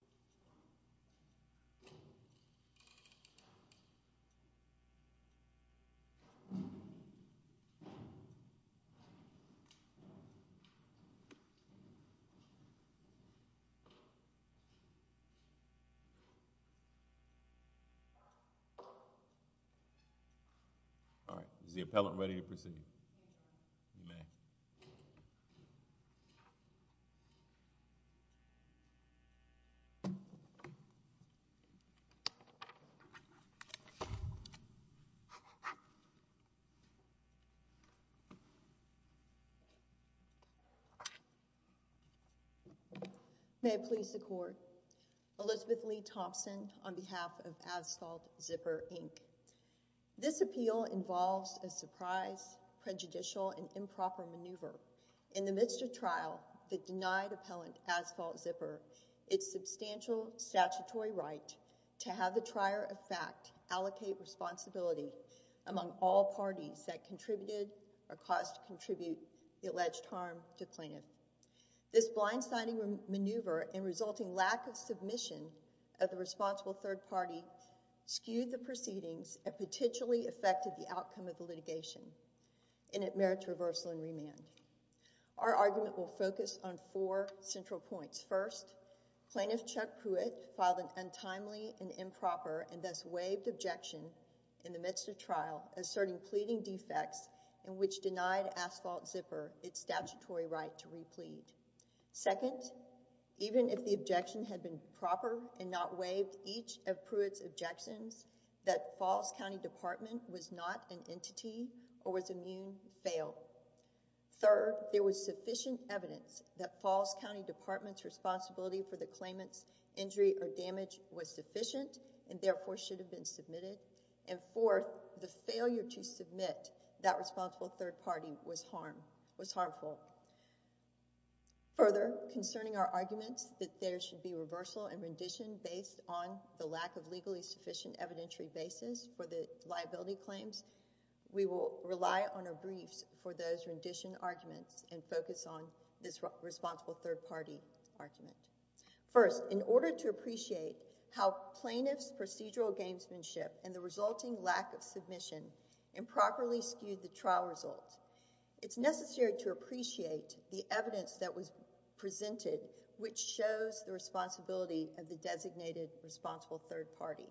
Byzantine Zipper All right, is the appellant ready to proceed? Yes. You may. May it please the court, Elizabeth Lee Thompson on behalf of Asphalt Zipper, Inc. This appeal involves a surprise, prejudicial, and improper maneuver in the midst of trial that denied Appellant Asphalt Zipper its substantial statutory right to have the trier of fact allocate responsibility among all parties that contributed or caused to contribute the alleged harm to plaintiff. This blindsiding maneuver and resulting lack of submission of the responsible third party skewed the proceedings and potentially affected the outcome of the litigation, and it merits reversal and remand. Our argument will focus on four central points. First, Plaintiff Chuck Pruitt filed an untimely and improper and thus waived objection in the midst of trial asserting pleading defects in which denied Asphalt Zipper its statutory right to replead. Second, even if the objection had been proper and not waived, each of Pruitt's objections that Falls County Department was not an entity or was immune failed. Third, there was sufficient evidence that Falls County Department's responsibility for the claimant's injury or damage was sufficient and therefore should have been submitted. And fourth, the failure to submit that responsible third party was harmful. Further, concerning our arguments that there should be reversal and rendition based on the lack of legally sufficient evidentiary basis for the liability claims, we will rely on our briefs for those rendition arguments and focus on this responsible third party argument. First, in order to appreciate how plaintiff's procedural gamesmanship and the resulting lack of submission improperly skewed the trial results, it's necessary to appreciate the third party.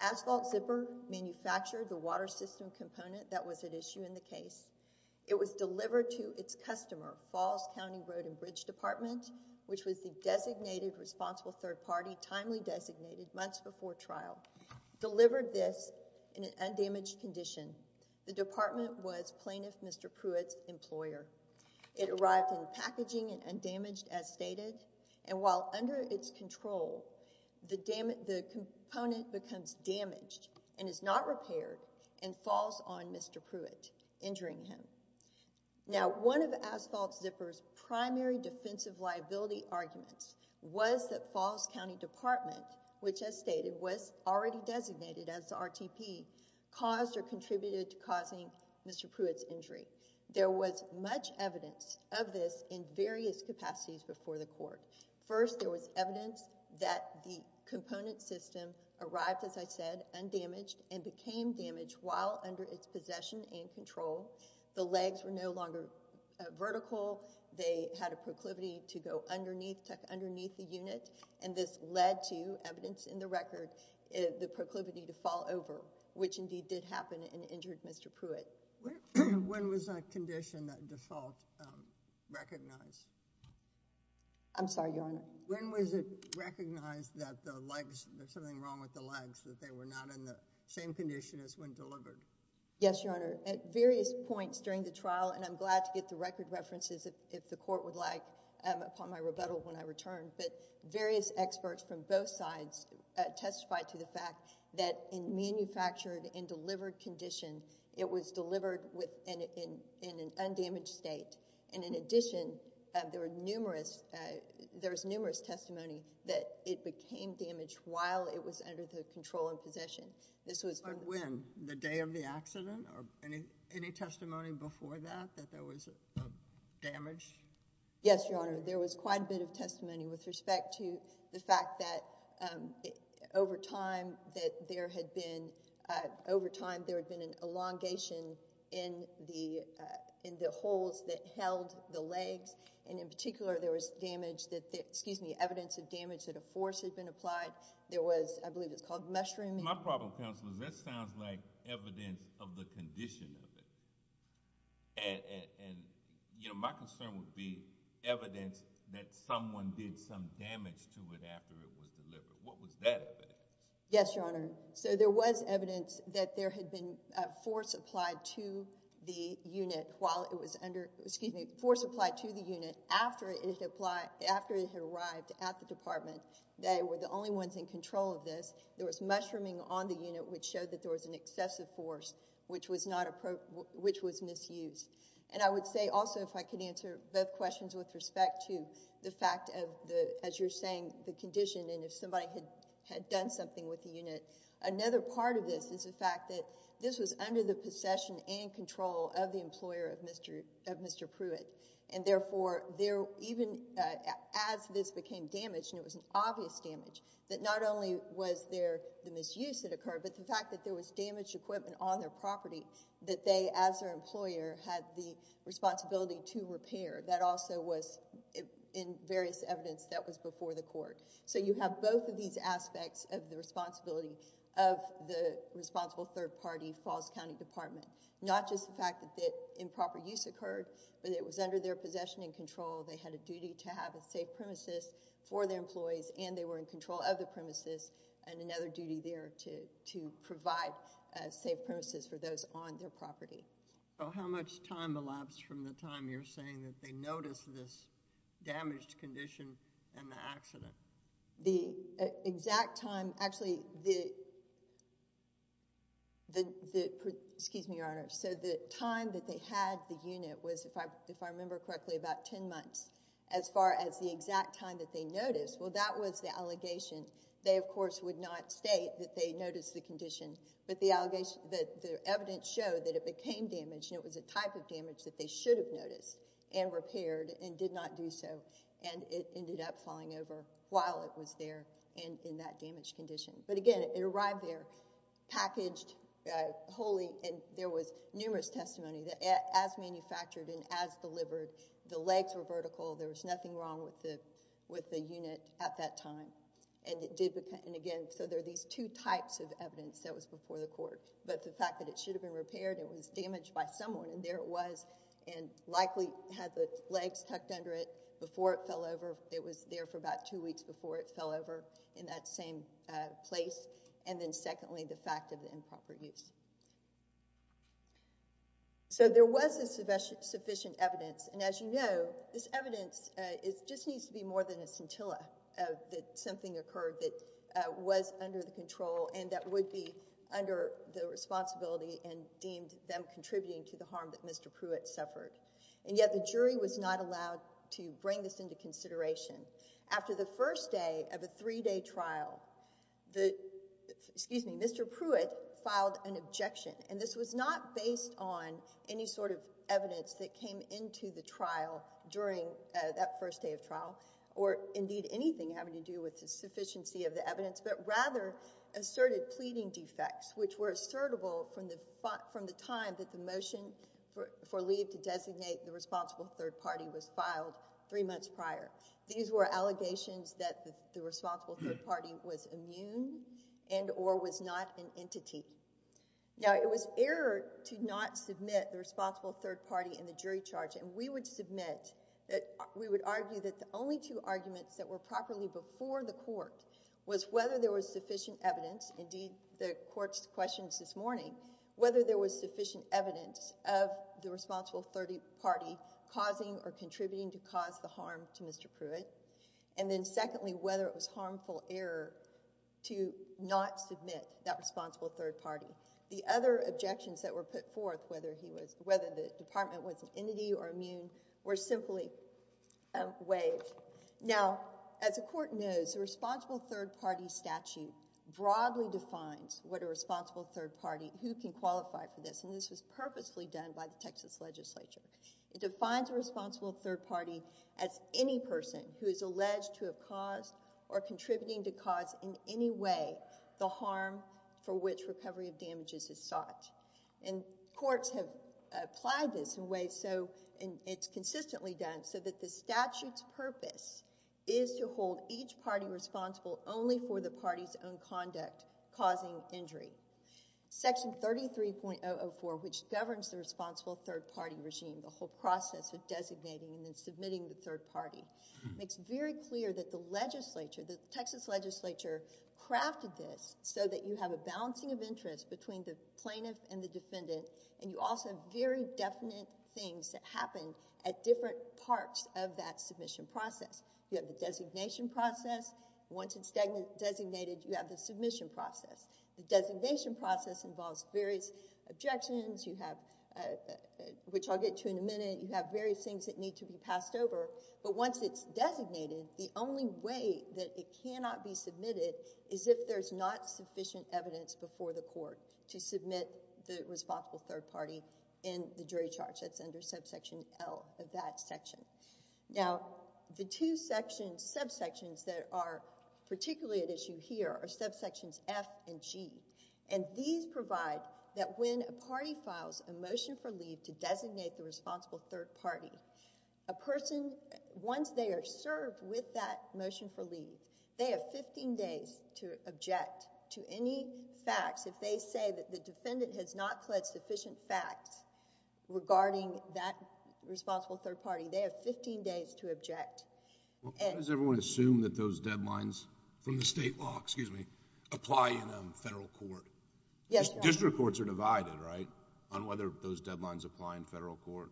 Asphalt Zipper manufactured the water system component that was at issue in the case. It was delivered to its customer, Falls County Road and Bridge Department, which was the designated responsible third party, timely designated, months before trial. Delivered this in an undamaged condition. The department was plaintiff Mr. Pruitt's employer. It arrived in packaging and undamaged as stated. And while under its control, the component becomes damaged and is not repaired and falls on Mr. Pruitt, injuring him. Now one of Asphalt Zipper's primary defensive liability arguments was that Falls County Department, which as stated was already designated as RTP, caused or contributed to causing Mr. Pruitt's injury. There was much evidence of this in various capacities before the court. First, there was evidence that the component system arrived, as I said, undamaged and became damaged while under its possession and control. The legs were no longer vertical. They had a proclivity to go underneath, tuck underneath the unit. And this led to evidence in the record, the proclivity to fall over, which indeed did happen and injured Mr. Pruitt. When was that condition, that default, recognized? I'm sorry, Your Honor. When was it recognized that the legs, there's something wrong with the legs, that they were not in the same condition as when delivered? Yes, Your Honor. At various points during the trial, and I'm glad to get the record references if the court would like upon my rebuttal when I return, but various experts from both sides testified to the fact that in manufactured and delivered condition, it was delivered in an undamaged state. And in addition, there were numerous, there was numerous testimony that it became damaged while it was under the control and possession. This was... But when? The day of the accident? Or any testimony before that, that there was damage? Yes, Your Honor. There was quite a bit of testimony with respect to the fact that over time that there had been, over time there had been an elongation in the holes that held the legs, and in particular there was damage that, excuse me, evidence of damage that a force had been applied. There was, I believe it's called mushrooming. My problem, counsel, is that sounds like evidence of the condition of it. And, you know, my concern would be evidence that someone did some damage to it after it was delivered. What was that evidence? Yes, Your Honor. So there was evidence that there had been a force applied to the unit while it was under, excuse me, force applied to the unit after it had arrived at the department. They were the only ones in control of this. There was mushrooming on the unit which showed that there was an excessive force which was misused. And I would say also, if I could answer both questions with respect to the fact of the, as you're saying, the condition and if somebody had done something with the unit, another part of this is the fact that this was under the possession and control of the employer of Mr. Pruitt. And therefore, even as this became damaged, and it was an obvious damage, that not only was there the misuse that occurred, but the fact that there was damaged equipment on their property that they, as their employer, had the responsibility to repair. That also was in various evidence that was before the court. So you have both of these aspects of the responsibility of the responsible third party, Falls County Department. Not just the fact that improper use occurred, but it was under their possession and control. They had a duty to have a safe premises for their employees and they were in control of a safe premises for those on their property. So how much time elapsed from the time you're saying that they noticed this damaged condition and the accident? The exact time, actually the, excuse me, Your Honor, so the time that they had the unit was, if I remember correctly, about 10 months. As far as the exact time that they noticed, well that was the allegation. They, of course, would not state that they noticed the condition, but the evidence showed that it became damaged and it was a type of damage that they should have noticed and repaired and did not do so. And it ended up falling over while it was there and in that damaged condition. But again, it arrived there packaged wholly and there was numerous testimony that as manufactured and as delivered, the legs were vertical, there was nothing wrong with the unit at that time. And again, so there are these two types of evidence that was before the court. But the fact that it should have been repaired, it was damaged by someone and there it was and likely had the legs tucked under it before it fell over. It was there for about two weeks before it fell over in that same place. And then secondly, the fact of improper use. So there was sufficient evidence and as you know, this evidence just needs to be more than a scintilla that something occurred that was under the control and that would be under the responsibility and deemed them contributing to the harm that Mr. Pruitt suffered. And yet the jury was not allowed to bring this into consideration. After the first day of a three-day trial, Mr. Pruitt filed an objection. And this was not based on any sort of evidence that came into the trial during that first day of trial or indeed anything having to do with the sufficiency of the evidence, but rather asserted pleading defects which were assertable from the time that the motion for leave to designate the responsible third party was filed three months prior. These were allegations that the responsible third party was immune and or was not an entity. Now it was error to not submit the responsible third party in the jury charge and we would argue that the only two arguments that were properly before the court was whether there was sufficient evidence, indeed the court's questions this morning, whether there was sufficient evidence of the responsible third party causing or contributing to cause the harm to Mr. Pruitt. And then secondly, whether it was harmful error to not submit that responsible third party. The other objections that were put forth, whether the department was an entity or immune, were simply waived. Now, as the court knows, the responsible third party statute broadly defines what a responsible third party, who can qualify for this, and this was purposefully done by the Texas legislature. It defines a responsible third party as any person who is alleged to have caused or done harm or damages as such. And courts have applied this in ways so, and it's consistently done, so that the statute's purpose is to hold each party responsible only for the party's own conduct causing injury. Section 33.004, which governs the responsible third party regime, the whole process of designating and then submitting the third party, makes very clear that the legislature, the Texas legislature crafted this so that you have a balancing of interest between the plaintiff and the defendant, and you also have very definite things that happen at different parts of that submission process. You have the designation process. Once it's designated, you have the submission process. The designation process involves various objections, which I'll get to in a minute. You have various things that need to be passed over. But once it's designated, the only way that it cannot be submitted is if there's not sufficient evidence before the court to submit the responsible third party in the jury charge. That's under subsection L of that section. Now, the two subsections that are particularly at issue here are subsections F and G, and these provide that when a party files a motion for leave to designate the responsible third party, a person, once they are served with that motion for leave, they have fifteen days to object to any facts. If they say that the defendant has not pled sufficient facts regarding that responsible third party, they have fifteen days to object. How does everyone assume that those deadlines from the state law apply in a federal court? District courts are divided, right, on whether those deadlines apply in federal court?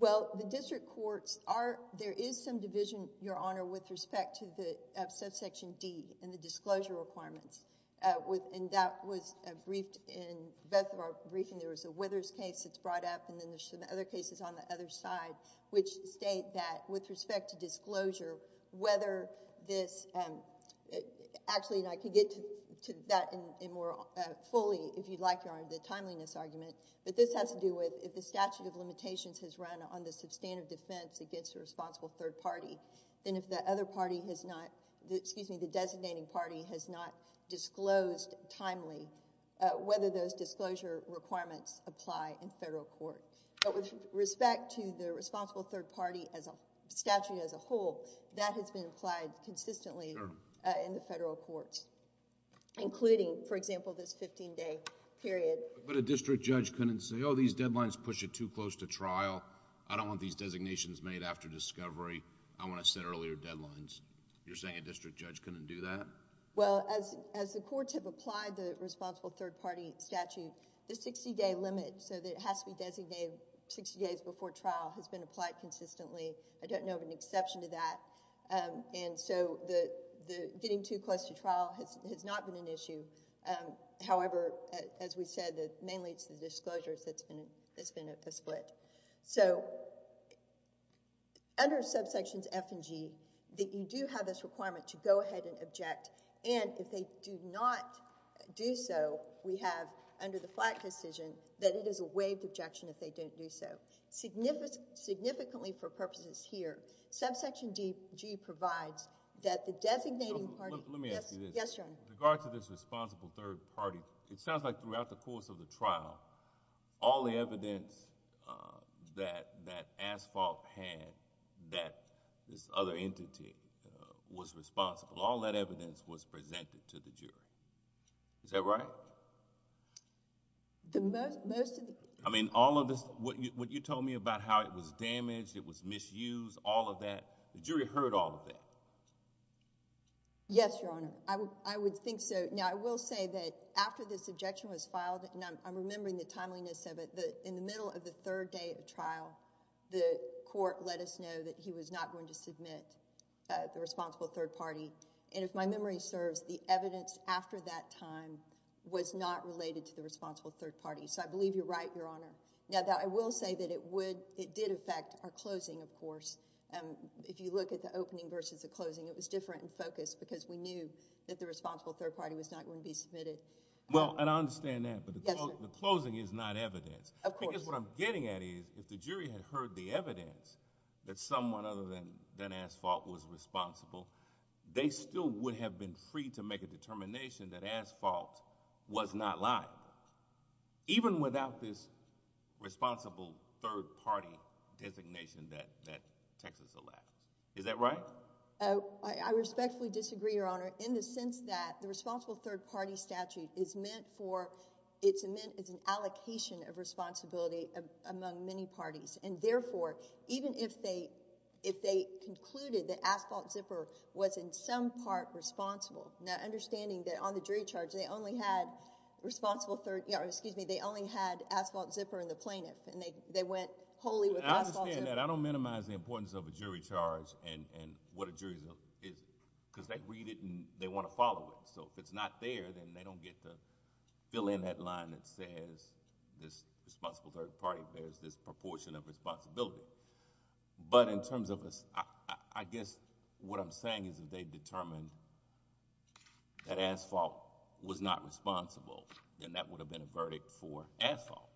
Well, the district courts are... there is some division, Your Honor, with respect to the subsection D and the disclosure requirements. And that was briefed in both of our briefings. There was a Withers case that's brought up, and then there's some other cases on the other side, which state that with respect to disclosure, whether this... actually, and I can get to that more fully if you'd like, Your Honor, the timeliness argument, but this has to do with if the statute of limitations has run on the substantive defense against the responsible third party, then if the other party has not... excuse me, the designating party has not disclosed timely whether those disclosure requirements apply in federal court. But with respect to the responsible third party as a statute as a whole, that has been applied consistently in the federal courts, including, for example, this fifteen-day period. But a district judge couldn't say, oh, these deadlines push it too close to trial. I don't want these designations made after discovery. I want to set earlier deadlines. You're saying a district judge couldn't do that? Well, as the courts have applied the responsible third party statute, the sixty-day limit so that it has to be designated sixty days before trial has been applied consistently. I don't know of an exception to that. And so, getting too close to trial has not been an issue. However, as we said, mainly it's the disclosures that's been a split. So, under subsections F and G, you do have this requirement to go ahead and object. And if they do not do so, we have under the Flack decision that it is a waived objection if they don't do so. Significantly for purposes here, subsection DG provides that the designating party... Let me ask you this. Yes, Your Honor. With regard to this responsible third party, it sounds like throughout the course of the trial, all the evidence that Asphalt had that this other entity was responsible, all that evidence was presented to the jury. Is that right? I mean, all of this... what you told me about how it was damaged, it was misused, all of that, the jury heard all of that. Yes, Your Honor. I would think so. Now, I will say that after this objection was filed, and I'm remembering the timeliness of it, in the middle of the third day of trial, the court let us know that he was not going to submit the responsible third party. And if my memory serves, the evidence after that time was not related to the responsible third party. So, I believe you're right, Your Honor. Now, I will say that it did affect our closing, of course. If you look at the opening versus the closing, it was different in focus because we knew that the responsible third party was not going to be submitted. Well, and I understand that. Yes, sir. But the closing is not evidence. Of course. Because what I'm getting at is, if the jury had heard the evidence that someone other than Asphalt was responsible, they still would have been free to make a determination that Asphalt was not lying, even without this responsible third party designation that Texas elapsed. Is that right? I respectfully disagree, Your Honor, in the sense that the responsible third party statute is meant for, it's meant as an allocation of responsibility among many parties. And therefore, even if they concluded that Asphalt Zipper was in some part responsible, now understanding that on the jury charge they only had responsible third, or excuse me, they only had Asphalt Zipper and the plaintiff, and they went wholly with Asphalt Zipper. I understand that. I don't minimize the importance of a jury charge and what a jury charge is because they read it and they want to follow it. So if it's not there, then they don't get to fill in that line that says this responsible third party bears this proportion of responsibility. But in terms of a... I guess what I'm saying is if they determined that Asphalt was not responsible, then that would have been a verdict for Asphalt.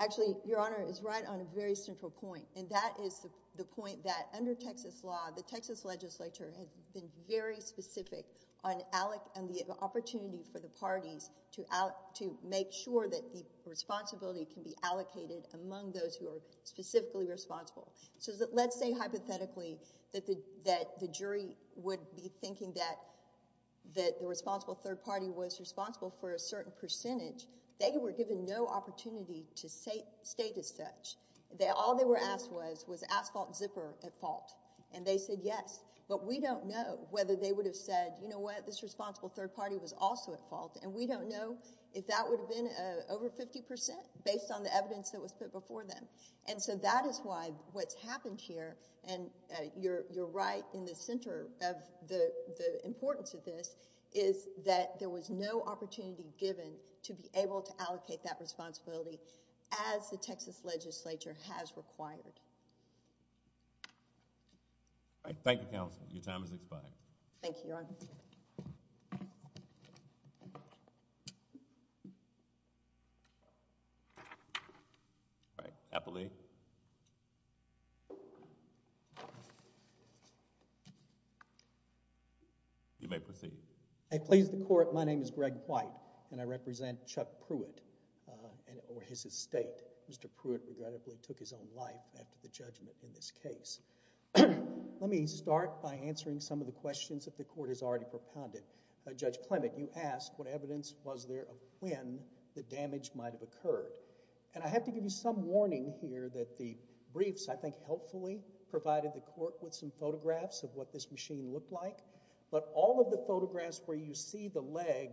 Actually, Your Honor is right on a very central point, and that is the point that under Texas law, the Texas legislature has been very specific on the opportunity for the parties to make sure that the responsibility can be allocated among those who are specifically responsible. So let's say hypothetically that the jury would be thinking that the responsible third party was responsible for a certain percentage. They were given no opportunity to state as such. All they were asked was, was Asphalt Zipper at fault? And they said yes. But we don't know whether they would have said, you know what, this responsible third party was also at fault. And we don't know if that would have been over 50 percent based on the evidence that was put before them. And so that is why what's happened here, and you're right in the center of the importance of this, is that there was no opportunity given to be able to allocate that responsibility as the Texas legislature has required. Thank you, counsel. Your time has expired. Thank you, Your Honor. All right. Appellee. You may proceed. I please the court, my name is Greg White and I represent Chuck Pruitt and his estate. Mr. Pruitt regrettably took his own life after the judgment in this case. Let me start by answering some of the questions that the court has already put forward. Judge Clement, you asked what evidence was there of when the damage might have occurred. And I have to give you some warning here that the briefs, I think, helpfully provided the court with some photographs of what this machine looked like. But all of the photographs where you see the leg,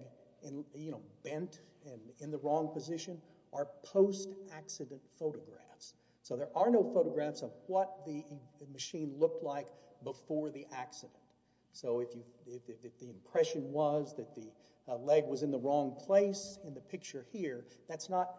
you know, bent and in the wrong position are post-accident photographs. So there are no photographs of what the machine looked like before the accident. So if the impression was that the leg was in the wrong place in the picture here, that's not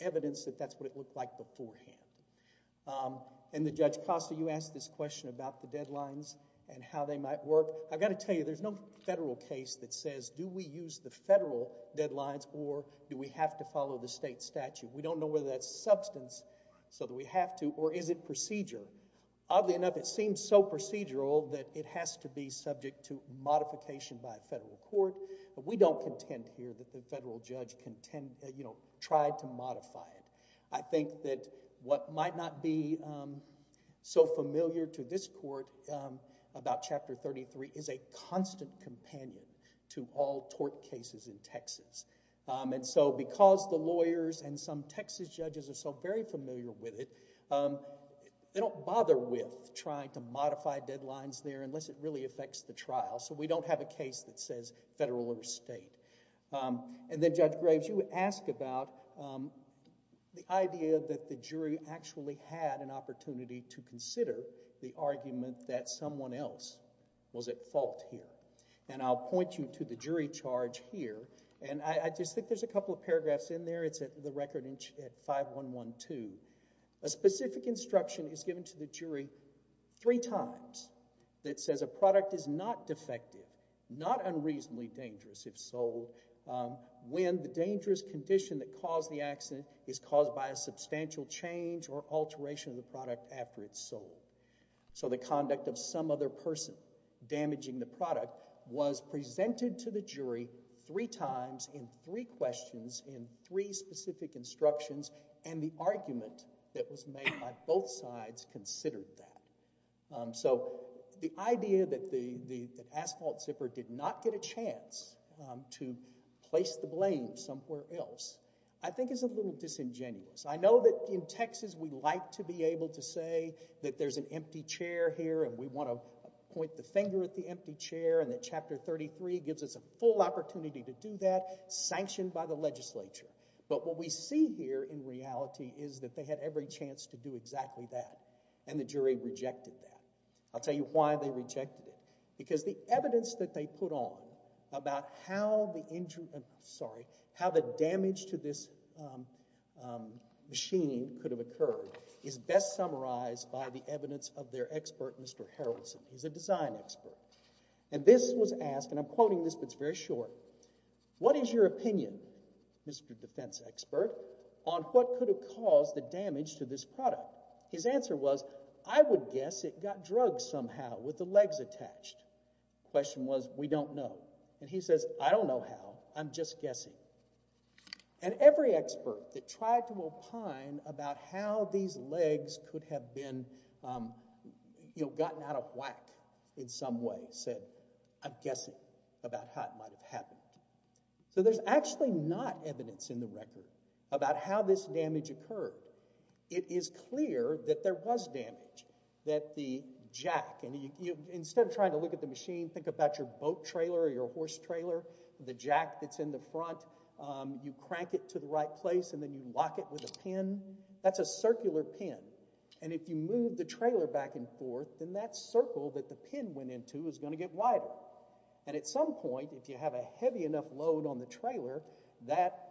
evidence that that's what it looked like beforehand. And Judge Costa, you asked this question about the deadlines and how they might work. I've got to tell you, there's no federal case that says do we use the federal deadlines or do we have to follow the state statute. We don't know whether that's substance so that we have to or is it procedure. Oddly enough, it seems so procedural that it has to be subject to modification by a federal court. But we don't contend here that the federal judge tried to modify it. I think that what might not be so familiar to this court about Chapter 33 is a constant companion to all tort cases in Texas. And so because the lawyers and some Texas judges are so very familiar with it, they don't bother with trying to modify deadlines there unless it really affects the trial. So we don't have a case that says federal or state. And then Judge Graves, you asked about the idea that the jury actually had an opportunity to consider the argument that someone else was at fault here. And I'll point you to the jury charge here. And I just think there's a couple of paragraphs in there. It's the record at 5112. A specific instruction is given to the jury three times that says a product is not defective, not unreasonably dangerous if sold, when the dangerous condition that caused the accident is caused by a substantial change or alteration of the product after it's sold. So the conduct of some other person damaging the product was presented to the jury three times in three questions in three specific instructions. And the argument that was made by both sides considered that. So the idea that Asphalt Zipper did not get a chance to place the blame somewhere else I think is a little disingenuous. I know that in Texas we like to be able to say that there's an empty chair here and we want to point the finger at the empty chair and that Chapter 33 gives us a full opportunity to do that, sanctioned by the legislature. But what we see here in reality is that they had every chance to do exactly that and the jury rejected that. I'll tell you why they rejected it. Because the evidence that they put on about how the damage to this machine could have occurred is best summarized by the evidence of their expert, Mr. Harrelson. He's a design expert. And this was asked, and I'm quoting this but it's very short, what is your opinion, Mr. Defense Expert, on what could have caused the damage to this product? His answer was, I would guess it got drugged somehow with the legs attached. The question was, we don't know. And he says, I don't know how, I'm just guessing. And every expert that tried to opine about how these legs could have been, you know, gotten out of whack in some way said, I'm guessing about how it might have happened. So there's actually not evidence in the record about how this damage occurred. It is clear that there was damage, that the jack, and instead of trying to look at the machine, think about your boat trailer or your horse trailer, the jack that's in the front, you crank it to the right place and then you lock it with a pin. That's a circular pin. And if you move the trailer back and forth, then that circle that the pin went into is going to get wider. And at some point, if you have a heavy enough load on the trailer, that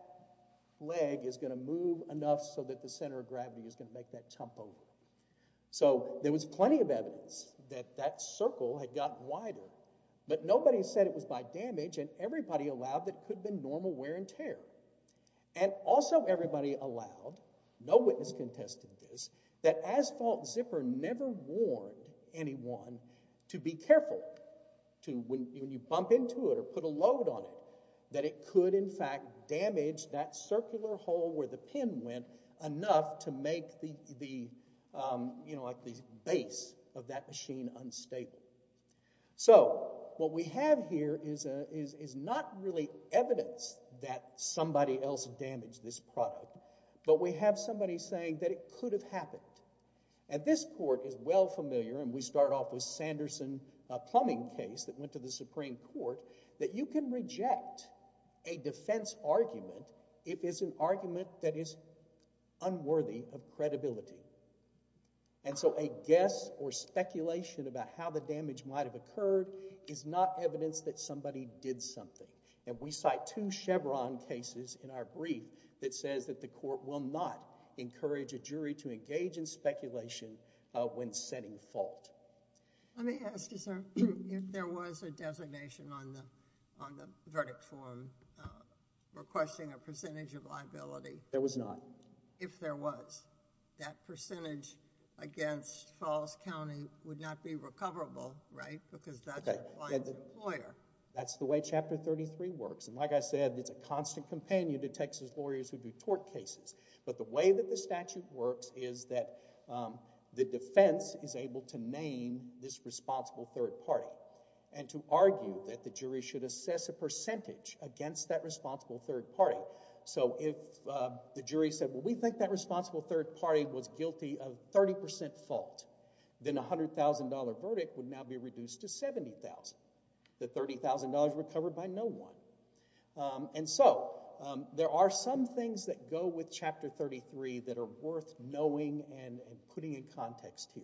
leg is going to move enough so that the center of gravity is going to make that jump over. So there was plenty of evidence that that circle had gotten wider. But nobody said it was by damage, and everybody allowed that it could have been normal wear and tear. And also everybody allowed, no witness contested this, that Asphalt Zipper never warned anyone to be careful when you bump into it or put a load on it, that it could in fact damage that circular hole where the pin went enough to make the base of that machine unstable. So what we have here is not really evidence that somebody else damaged this product, but we have somebody saying that it could have happened. And this court is well familiar, and we start off with Sanderson plumbing case that went to the Supreme Court, that you can reject a defense argument if it's an argument that is unworthy of credibility. And so a guess or speculation about how the damage might have occurred is not evidence that somebody did something. And we cite two Chevron cases in our brief that says that the court will not encourage a jury to engage in speculation when setting fault. Let me ask you, sir, if there was a designation on the verdict form requesting a percentage of liability. There was not. If there was, that percentage against Falls County would not be recoverable, right, because that's applying to the lawyer. That's the way Chapter 33 works. And like I said, it's a constant companion to Texas lawyers who do tort cases. But the way that the statute works is that the defense is able to name this responsible third party and to argue that the jury should assess a percentage against that responsible third party. So if the jury said, well, we think that responsible third party was guilty of 30% fault, then a $100,000 verdict would now be reduced to $70,000. The $30,000 recovered by no one. And so there are some things that go with Chapter 33 that are worth knowing and putting in context here.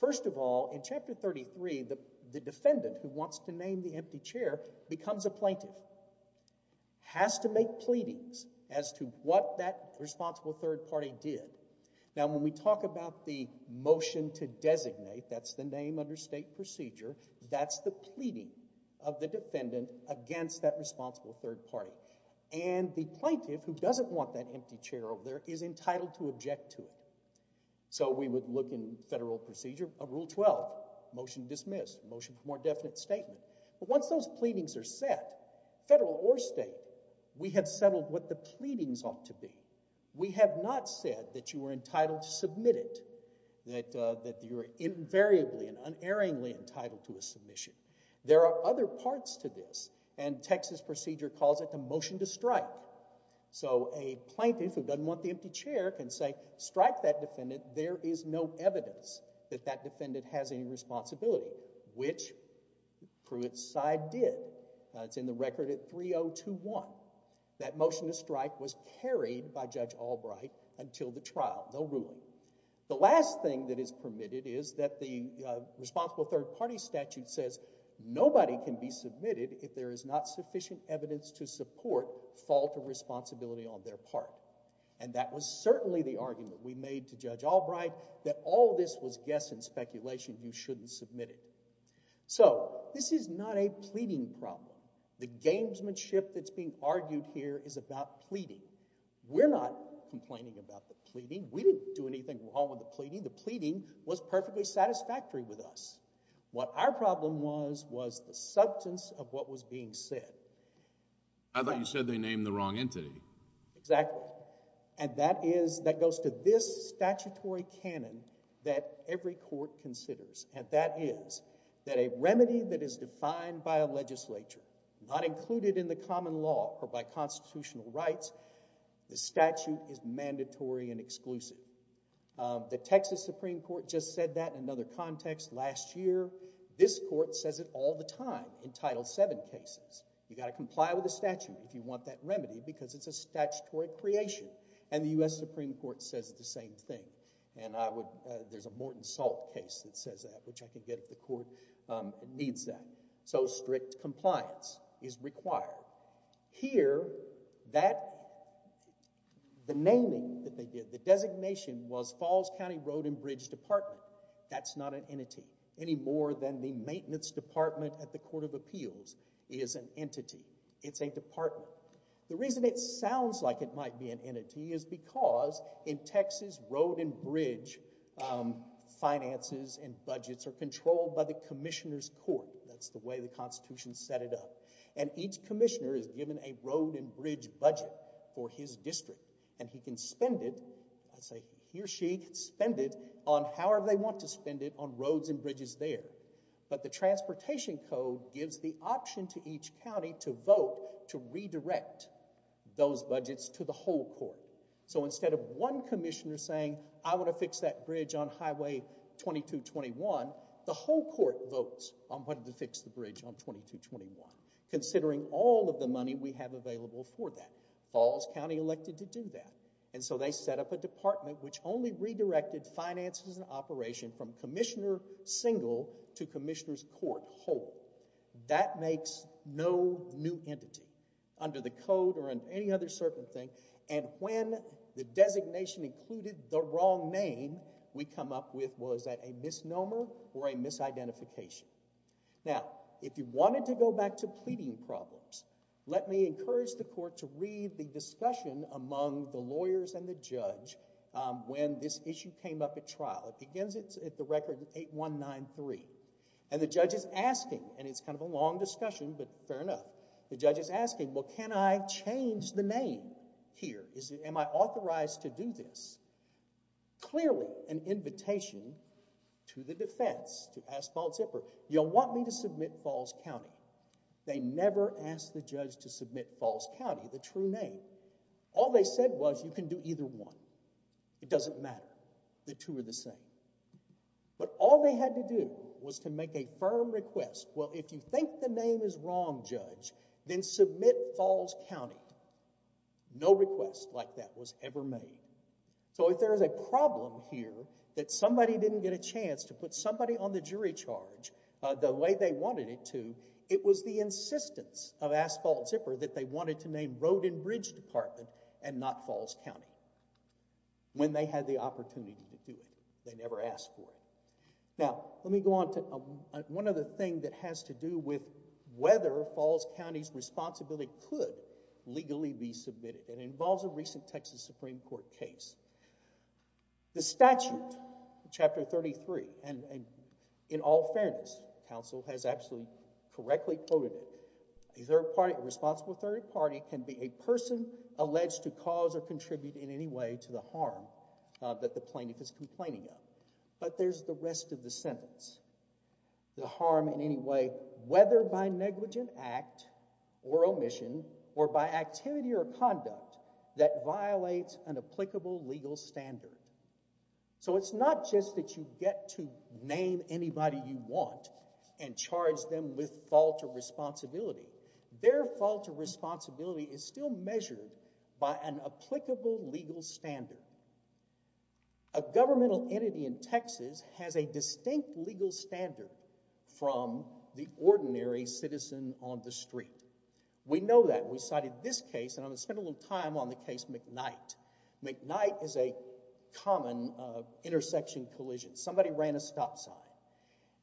First of all, in Chapter 33, the defendant who wants to name the empty chair becomes a plaintiff, has to make pleadings as to what that responsible third party did. Now, when we talk about the motion to designate, that's the name under state procedure, that's the pleading of the defendant against that responsible third party. And the plaintiff who doesn't want that empty chair over there is entitled to object to it. So we would look in federal procedure, Rule 12, motion dismissed, motion for more definite statement. But once those pleadings are set, federal or state, we have settled what the pleadings ought to be. We have not said that you are entitled to submit it, that you are invariably and unerringly entitled to a submission. There are other parts to this, and Texas procedure calls it the motion to strike. So a plaintiff who doesn't want the empty chair can say, strike that defendant, there is no evidence that that defendant has any responsibility, which Pruitt's side did. It's in the record at 3021. That motion to strike was carried by Judge Albright until the trial, no ruling. The last thing that is permitted is that the responsible third party statute says nobody can be submitted if there is not sufficient evidence to support fault or responsibility on their part. And that was certainly the argument we made to Judge Albright that all this was guess and speculation, you shouldn't submit it. So this is not a pleading problem. The gamesmanship that's being argued here is about pleading. We're not complaining about the pleading. We didn't do anything wrong with the pleading. The pleading was perfectly satisfactory with us. What our problem was was the substance of what was being said. I thought you said they named the wrong entity. Exactly. And that is, that goes to this statutory canon that every court considers, and that is that a remedy that is defined by a legislature, not included in the common law or by constitutional rights, the statute is mandatory and exclusive. The Texas Supreme Court just said that in another context last year. This court says it all the time in Title VII cases. You've got to comply with the statute if you want that remedy because it's a statutory creation. And the U.S. Supreme Court says the same thing. And there's a Morton Salt case that says that, which I can get if the court needs that. So strict compliance is required. Here, the naming that they did, the designation was Falls County Road and Bridge Department. That's not an entity, any more than the Maintenance Department at the Court of Appeals is an entity. It's a department. The reason it sounds like it might be an entity is because in Texas, road and bridge finances and budgets are controlled by the Commissioner's Court. That's the way the Constitution set it up. And each commissioner is given a road and bridge budget for his district. And he can spend it, he or she can spend it on however they want to spend it on roads and bridges there. But the Transportation Code gives the option to each county to vote to redirect those budgets to the whole court. So instead of one commissioner saying, I want to fix that bridge on Highway 2221, the whole court votes on what to fix the bridge on 2221, considering all of the money we have available for that. Falls County elected to do that. And so they set up a department which only redirected finances and operation from commissioner single to commissioner's court whole. That makes no new entity under the code or any other certain thing. And when the designation included the wrong name, we come up with, well, is that a misnomer or a misidentification? Now, if you wanted to go back to pleading problems, let me encourage the court to read the discussion among the lawyers and the judge when this issue came up at trial. It begins at the record 8193. And the judge is asking, and it's kind of a long discussion, but fair enough. The judge is asking, well, can I change the name here? Am I authorized to do this? Clearly an invitation to the defense, to ask false effort. You'll want me to submit Falls County. They never asked the judge to submit Falls County, the true name. All they said was you can do either one. It doesn't matter. The two are the same. But all they had to do was to make a firm request. Well, if you think the name is wrong, judge, then submit Falls County. No request like that was ever made. So if there is a problem here that somebody didn't get a chance to put somebody on the jury charge the way they wanted it to, it was the insistence of asphalt zipper that they wanted to name road and bridge department and not Falls County when they had the opportunity to do it. They never asked for it. Now, let me go on to one other thing that has to do with whether Falls County's responsibility could legally be submitted. It involves a recent Texas Supreme Court case. The statute, Chapter 33, and in all fairness, counsel has absolutely correctly quoted it. A third party, a responsible third party can be a person alleged to cause or contribute in any way to the harm that the plaintiff is complaining of. But there's the rest of the sentence. The harm in any way, whether by negligent act or omission or by activity or conduct that violates an applicable legal standard. So it's not just that you get to name anybody you want and charge them with fault or responsibility. Their fault or responsibility is still measured by an applicable legal standard. A governmental entity in Texas has a distinct legal standard from the ordinary citizen on the street. We know that. We cited this case, and I'm going to spend a little time on the case McKnight. McKnight is a common intersection collision. Somebody ran a stop sign.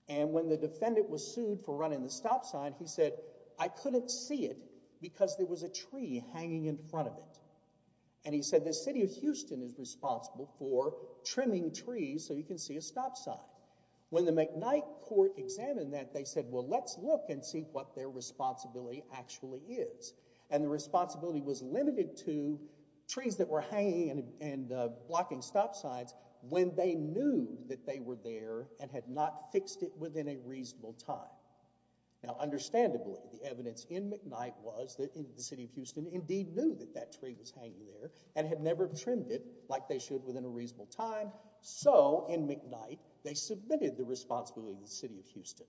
And when the defendant was sued for running the stop sign, he said, I couldn't see it because there was a tree hanging in front of it. And he said, the city of Houston is responsible for trimming trees so you can see a stop sign. When the McKnight court examined that, they said, well, let's look and see what their responsibility actually is. And the responsibility was limited to trees that were hanging and blocking stop signs when they knew that they were there and had not fixed it within a reasonable time. Now, understandably, the evidence in McKnight was that the city of Houston indeed knew that that tree was hanging there and had never trimmed it like they should within a reasonable time. So in McKnight, they submitted the responsibility to the city of Houston.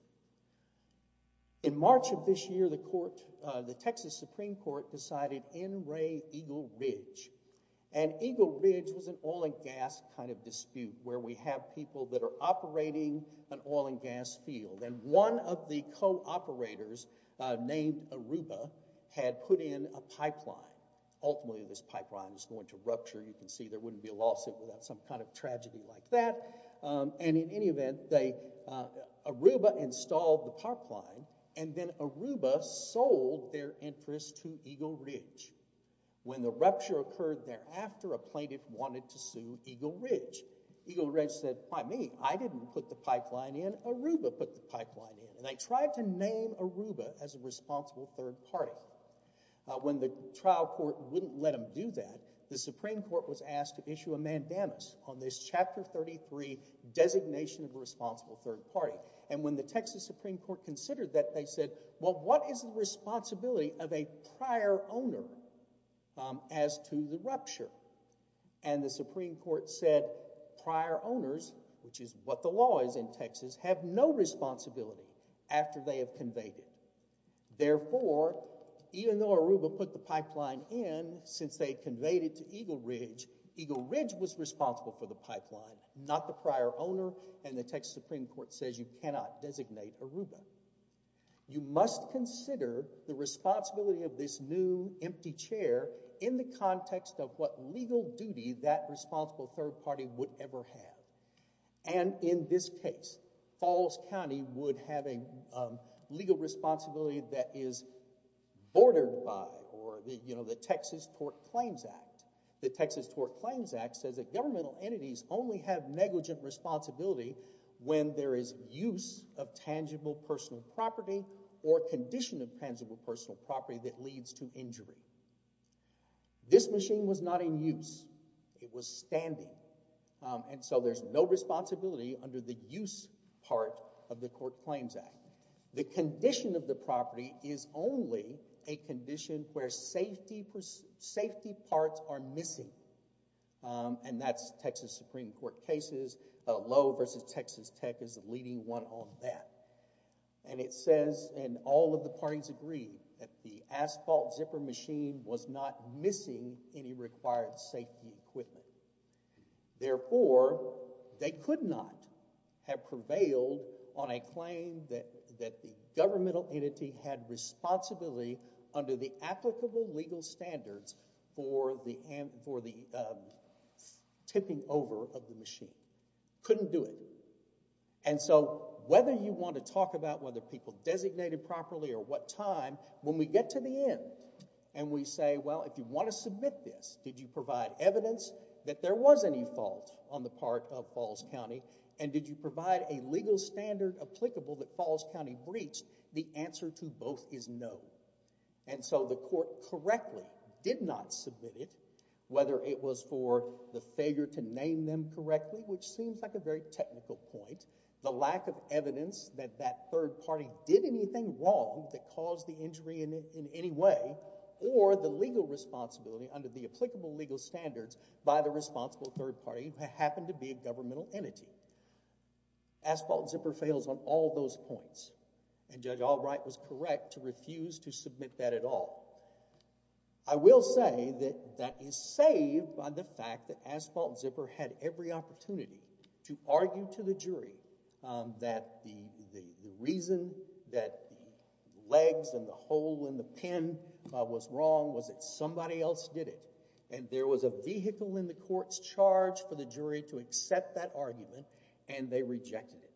In March of this year, the Texas Supreme Court decided N. Ray Eagle Ridge. And Eagle Ridge was an oil and gas kind of dispute where we have people that are operating an oil and gas field. And one of the co-operators named Aruba had put in a pipeline. Ultimately, this pipeline was going to rupture. You can see there wouldn't be a lawsuit without some kind of tragedy like that. And in any event, Aruba installed the pipeline, and then Aruba sold their interest to Eagle Ridge. When the rupture occurred thereafter, a plaintiff wanted to sue Eagle Ridge. Eagle Ridge said, why me? I didn't put the pipeline in. Aruba put the pipeline in. And they tried to name Aruba as a responsible third party. When the trial court wouldn't let them do that, the Supreme Court was asked to issue a mandamus on this Chapter 33 designation of a responsible third party. And when the Texas Supreme Court considered that, they said, well, what is the responsibility of a prior owner as to the rupture? And the Supreme Court said prior owners, which is what the law is in Texas, have no responsibility after they have conveyed it. Therefore, even though Aruba put the pipeline in, since they conveyed it to Eagle Ridge, Eagle Ridge was responsible for the pipeline, not the prior owner, and the Texas Supreme Court says you cannot designate Aruba. You must consider the responsibility of this new empty chair in the context of what legal duty that responsible third party would ever have. And in this case, Falls County would have a legal responsibility that is bordered by the Texas Tort Claims Act. The Texas Tort Claims Act says that governmental entities only have negligent responsibility when there is use of tangible personal property or condition of tangible personal property that leads to injury. This machine was not in use. It was standing. And so there's no responsibility under the use part of the Court Claims Act. The condition of the property is only a condition where safety parts are missing. And that's Texas Supreme Court cases. Lowe v. Texas Tech is the leading one on that. And it says, and all of the parties agree, that the asphalt zipper machine was not missing any required safety equipment. Therefore, they could not have prevailed on a claim that the governmental entity had responsibility under the applicable legal standards for the tipping over of the machine. Couldn't do it. And so whether you want to talk about whether people designated properly or what time, when we get to the end and we say, well, if you want to submit this, did you provide evidence that there was any fault on the part of Falls County, and did you provide a legal standard applicable that Falls County breached, the answer to both is no. And so the court correctly did not submit it, whether it was for the failure to name them correctly, which seems like a very technical point, the lack of evidence that that third party did anything wrong that caused the injury in any way, or the legal responsibility under the applicable legal standards by the responsible third party, who happened to be a governmental entity. Asphalt zipper fails on all those points. And Judge Albright was correct to refuse to submit that at all. I will say that that is saved by the fact that Asphalt Zipper had every opportunity to argue to the jury that the reason that the legs and the hole in the pin was wrong was that somebody else did it. And there was a vehicle in the court's charge for the jury to accept that argument, and they rejected it.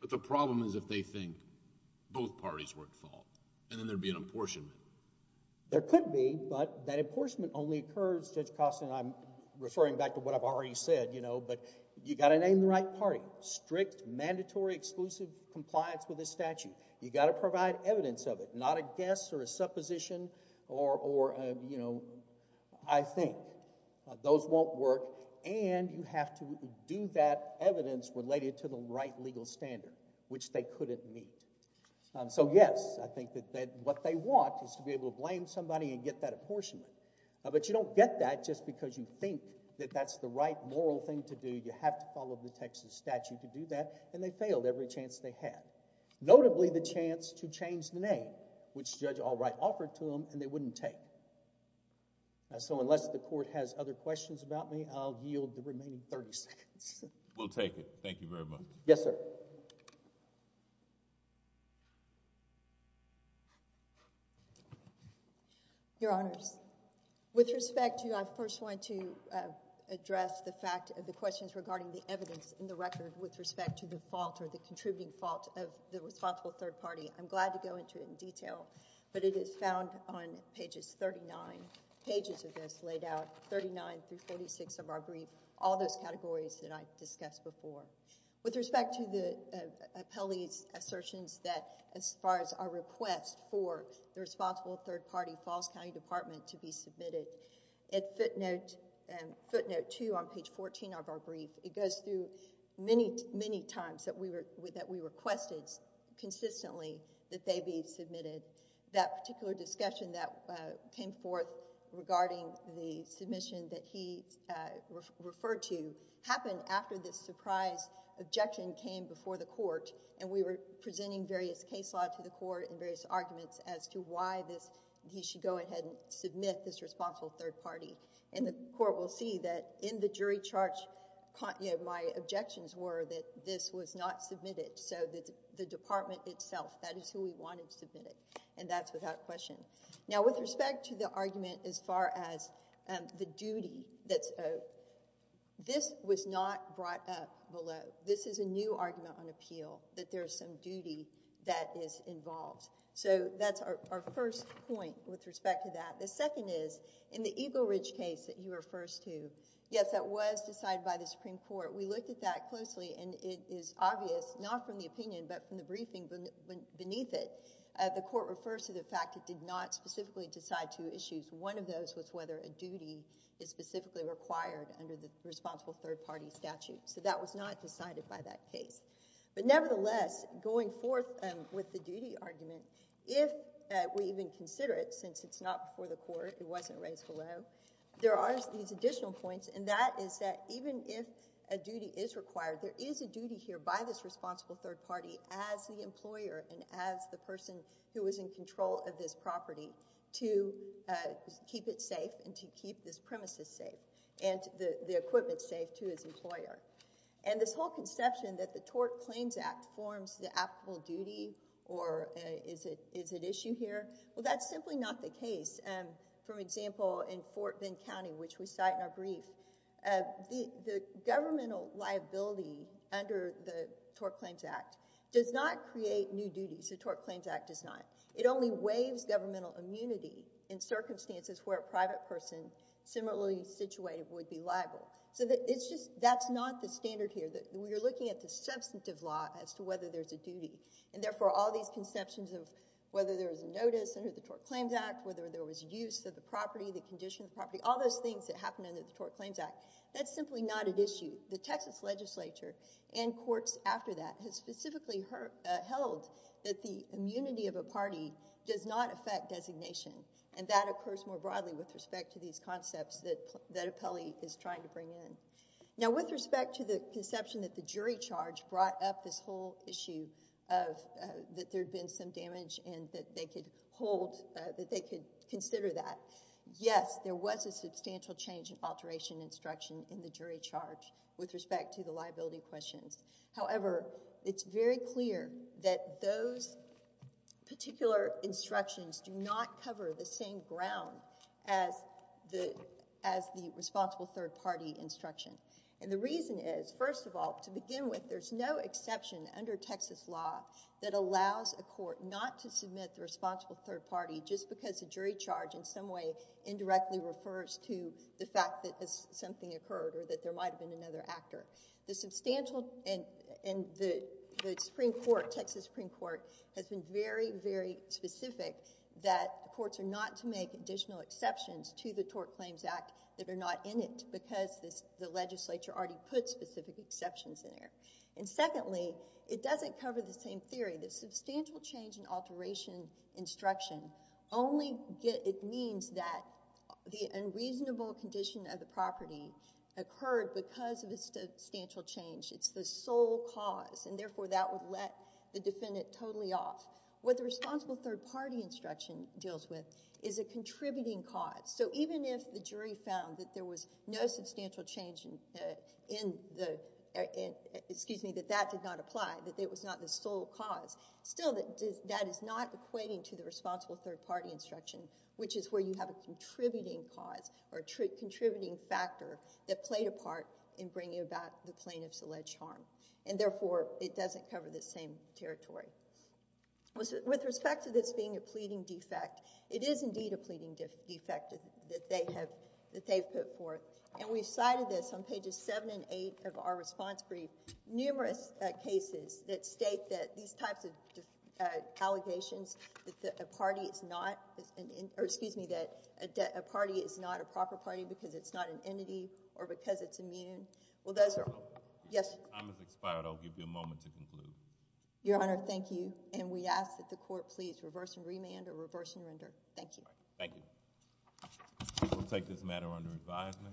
But the problem is if they think both parties were at fault then there would be an apportionment. There could be, but that apportionment only occurs, Judge Costa and I am referring back to what I've already said, but you've got to name the right party. Strict, mandatory, exclusive compliance with the statute. You've got to provide evidence of it, not a guess or a supposition or a, you know, I think. Those won't work. And you have to do that evidence related to the right legal standard, which they couldn't meet. So yes, I think that what they want is to be able to blame somebody and get that apportionment. But you don't get that just because you think that that's the right moral thing to do. You have to follow the Texas statute to do that, and they failed every chance they had. Notably the chance to change the name, which Judge Allwright offered to them, and they wouldn't take it. So unless the court has other questions about me, I'll yield the remaining 30 seconds. We'll take it. Thank you very much. Yes, sir. Your Honors, with respect to you, I first want to address the fact of the questions regarding the evidence in the record with respect to the fault or the contributing fault of the responsible third party. I'm glad to go into it in detail, but it is found on pages 39, pages of this laid out, 39 through 46 of our brief, all those categories that I've discussed before. With respect to the appellee's assertions that as far as our request for the responsible third party Falls County Department to be submitted, at footnote 2 on page 14 of our brief, it goes through many, many times that we requested consistently that they be submitted. That particular discussion that came forth regarding the submission that he referred to happened after this surprise objection came before the court, and we were presenting various case law to the court and various arguments as to why he should go ahead and submit this responsible third party. And the court will see that in the jury charge, my objections were that this was not submitted, so the department itself, that is who we wanted submitted, and that's without question. Now, with respect to the argument as far as the duty that's owed, this was not brought up below. This is a new argument on appeal, that there is some duty that is involved. So that's our first point with respect to that. The second is in the Eagle Ridge case that he refers to, yes, that was decided by the Supreme Court. We looked at that closely, and it is obvious not from the opinion but from the briefing beneath it. The court refers to the fact it did not specifically decide two issues. One of those was whether a duty is specifically required under the responsible third party statute. So that was not decided by that case. But nevertheless, going forth with the duty argument, if we even consider it, since it's not before the court, it wasn't raised below, there are these additional points, and that is that even if a duty is required, there is a duty here by this responsible third party as the employer and as the person who is in control of this property to keep it safe and to keep this premises safe and the equipment safe to his employer. And this whole conception that the Tort Claims Act forms the applicable duty or is at issue here, well, that's simply not the case. For example, in Fort Bend County, which we cite in our brief, the governmental liability under the Tort Claims Act does not create new duties. The Tort Claims Act does not. It only waives governmental immunity in circumstances where a private person similarly situated would be liable. So that's not the standard here. We are looking at the substantive law as to whether there's a duty, and therefore all these conceptions of whether there is a notice under the Tort Claims Act, whether there was use of the property, the condition of the property, all those things that happen under the Tort Claims Act, that's simply not at issue. The Texas legislature and courts after that have specifically held that the immunity of a party does not affect designation, and that occurs more broadly with respect to these concepts that Apelli is trying to bring in. Now, with respect to the conception that the jury charge brought up this whole issue that there had been some damage and that they could consider that, yes, there was a substantial change in alteration instruction in the jury charge with respect to the liability questions. However, it's very clear that those particular instructions do not cover the same ground as the responsible third party instruction. And the reason is, first of all, to begin with, there's no exception under Texas law that allows a court not to submit the responsible third party just because a jury charge in some way indirectly refers to the fact that something occurred or that there might have been another actor. The substantial—and the Supreme Court, Texas Supreme Court, has been very, very specific that courts are not to make additional exceptions to the Tort Claims Act that are not in it because the legislature already put specific exceptions in there. And secondly, it doesn't cover the same theory. The substantial change in alteration instruction only means that the unreasonable condition of the property occurred because of the substantial change. It's the sole cause, and therefore that would let the defendant totally off. What the responsible third party instruction deals with is a contributing cause. So even if the jury found that there was no substantial change in the—excuse me, that that did not apply, that it was not the sole cause, still that is not equating to the responsible third party instruction, which is where you have a contributing cause or a contributing factor that played a part in bringing about the plaintiff's alleged harm. And therefore, it doesn't cover the same territory. With respect to this being a pleading defect, it is indeed a pleading defect that they have—that they've put forth. And we've cited this on pages 7 and 8 of our response brief. Numerous cases that state that these types of allegations that a party is not—or excuse me, that a party is not a proper party because it's not an entity or because it's immune. Well, those are— Your Honor. Yes. Your time has expired. I'll give you a moment to conclude. Your Honor, thank you. And we ask that the court please reverse and remand or reverse and render. Thank you. Thank you. We'll take this matter under advisement.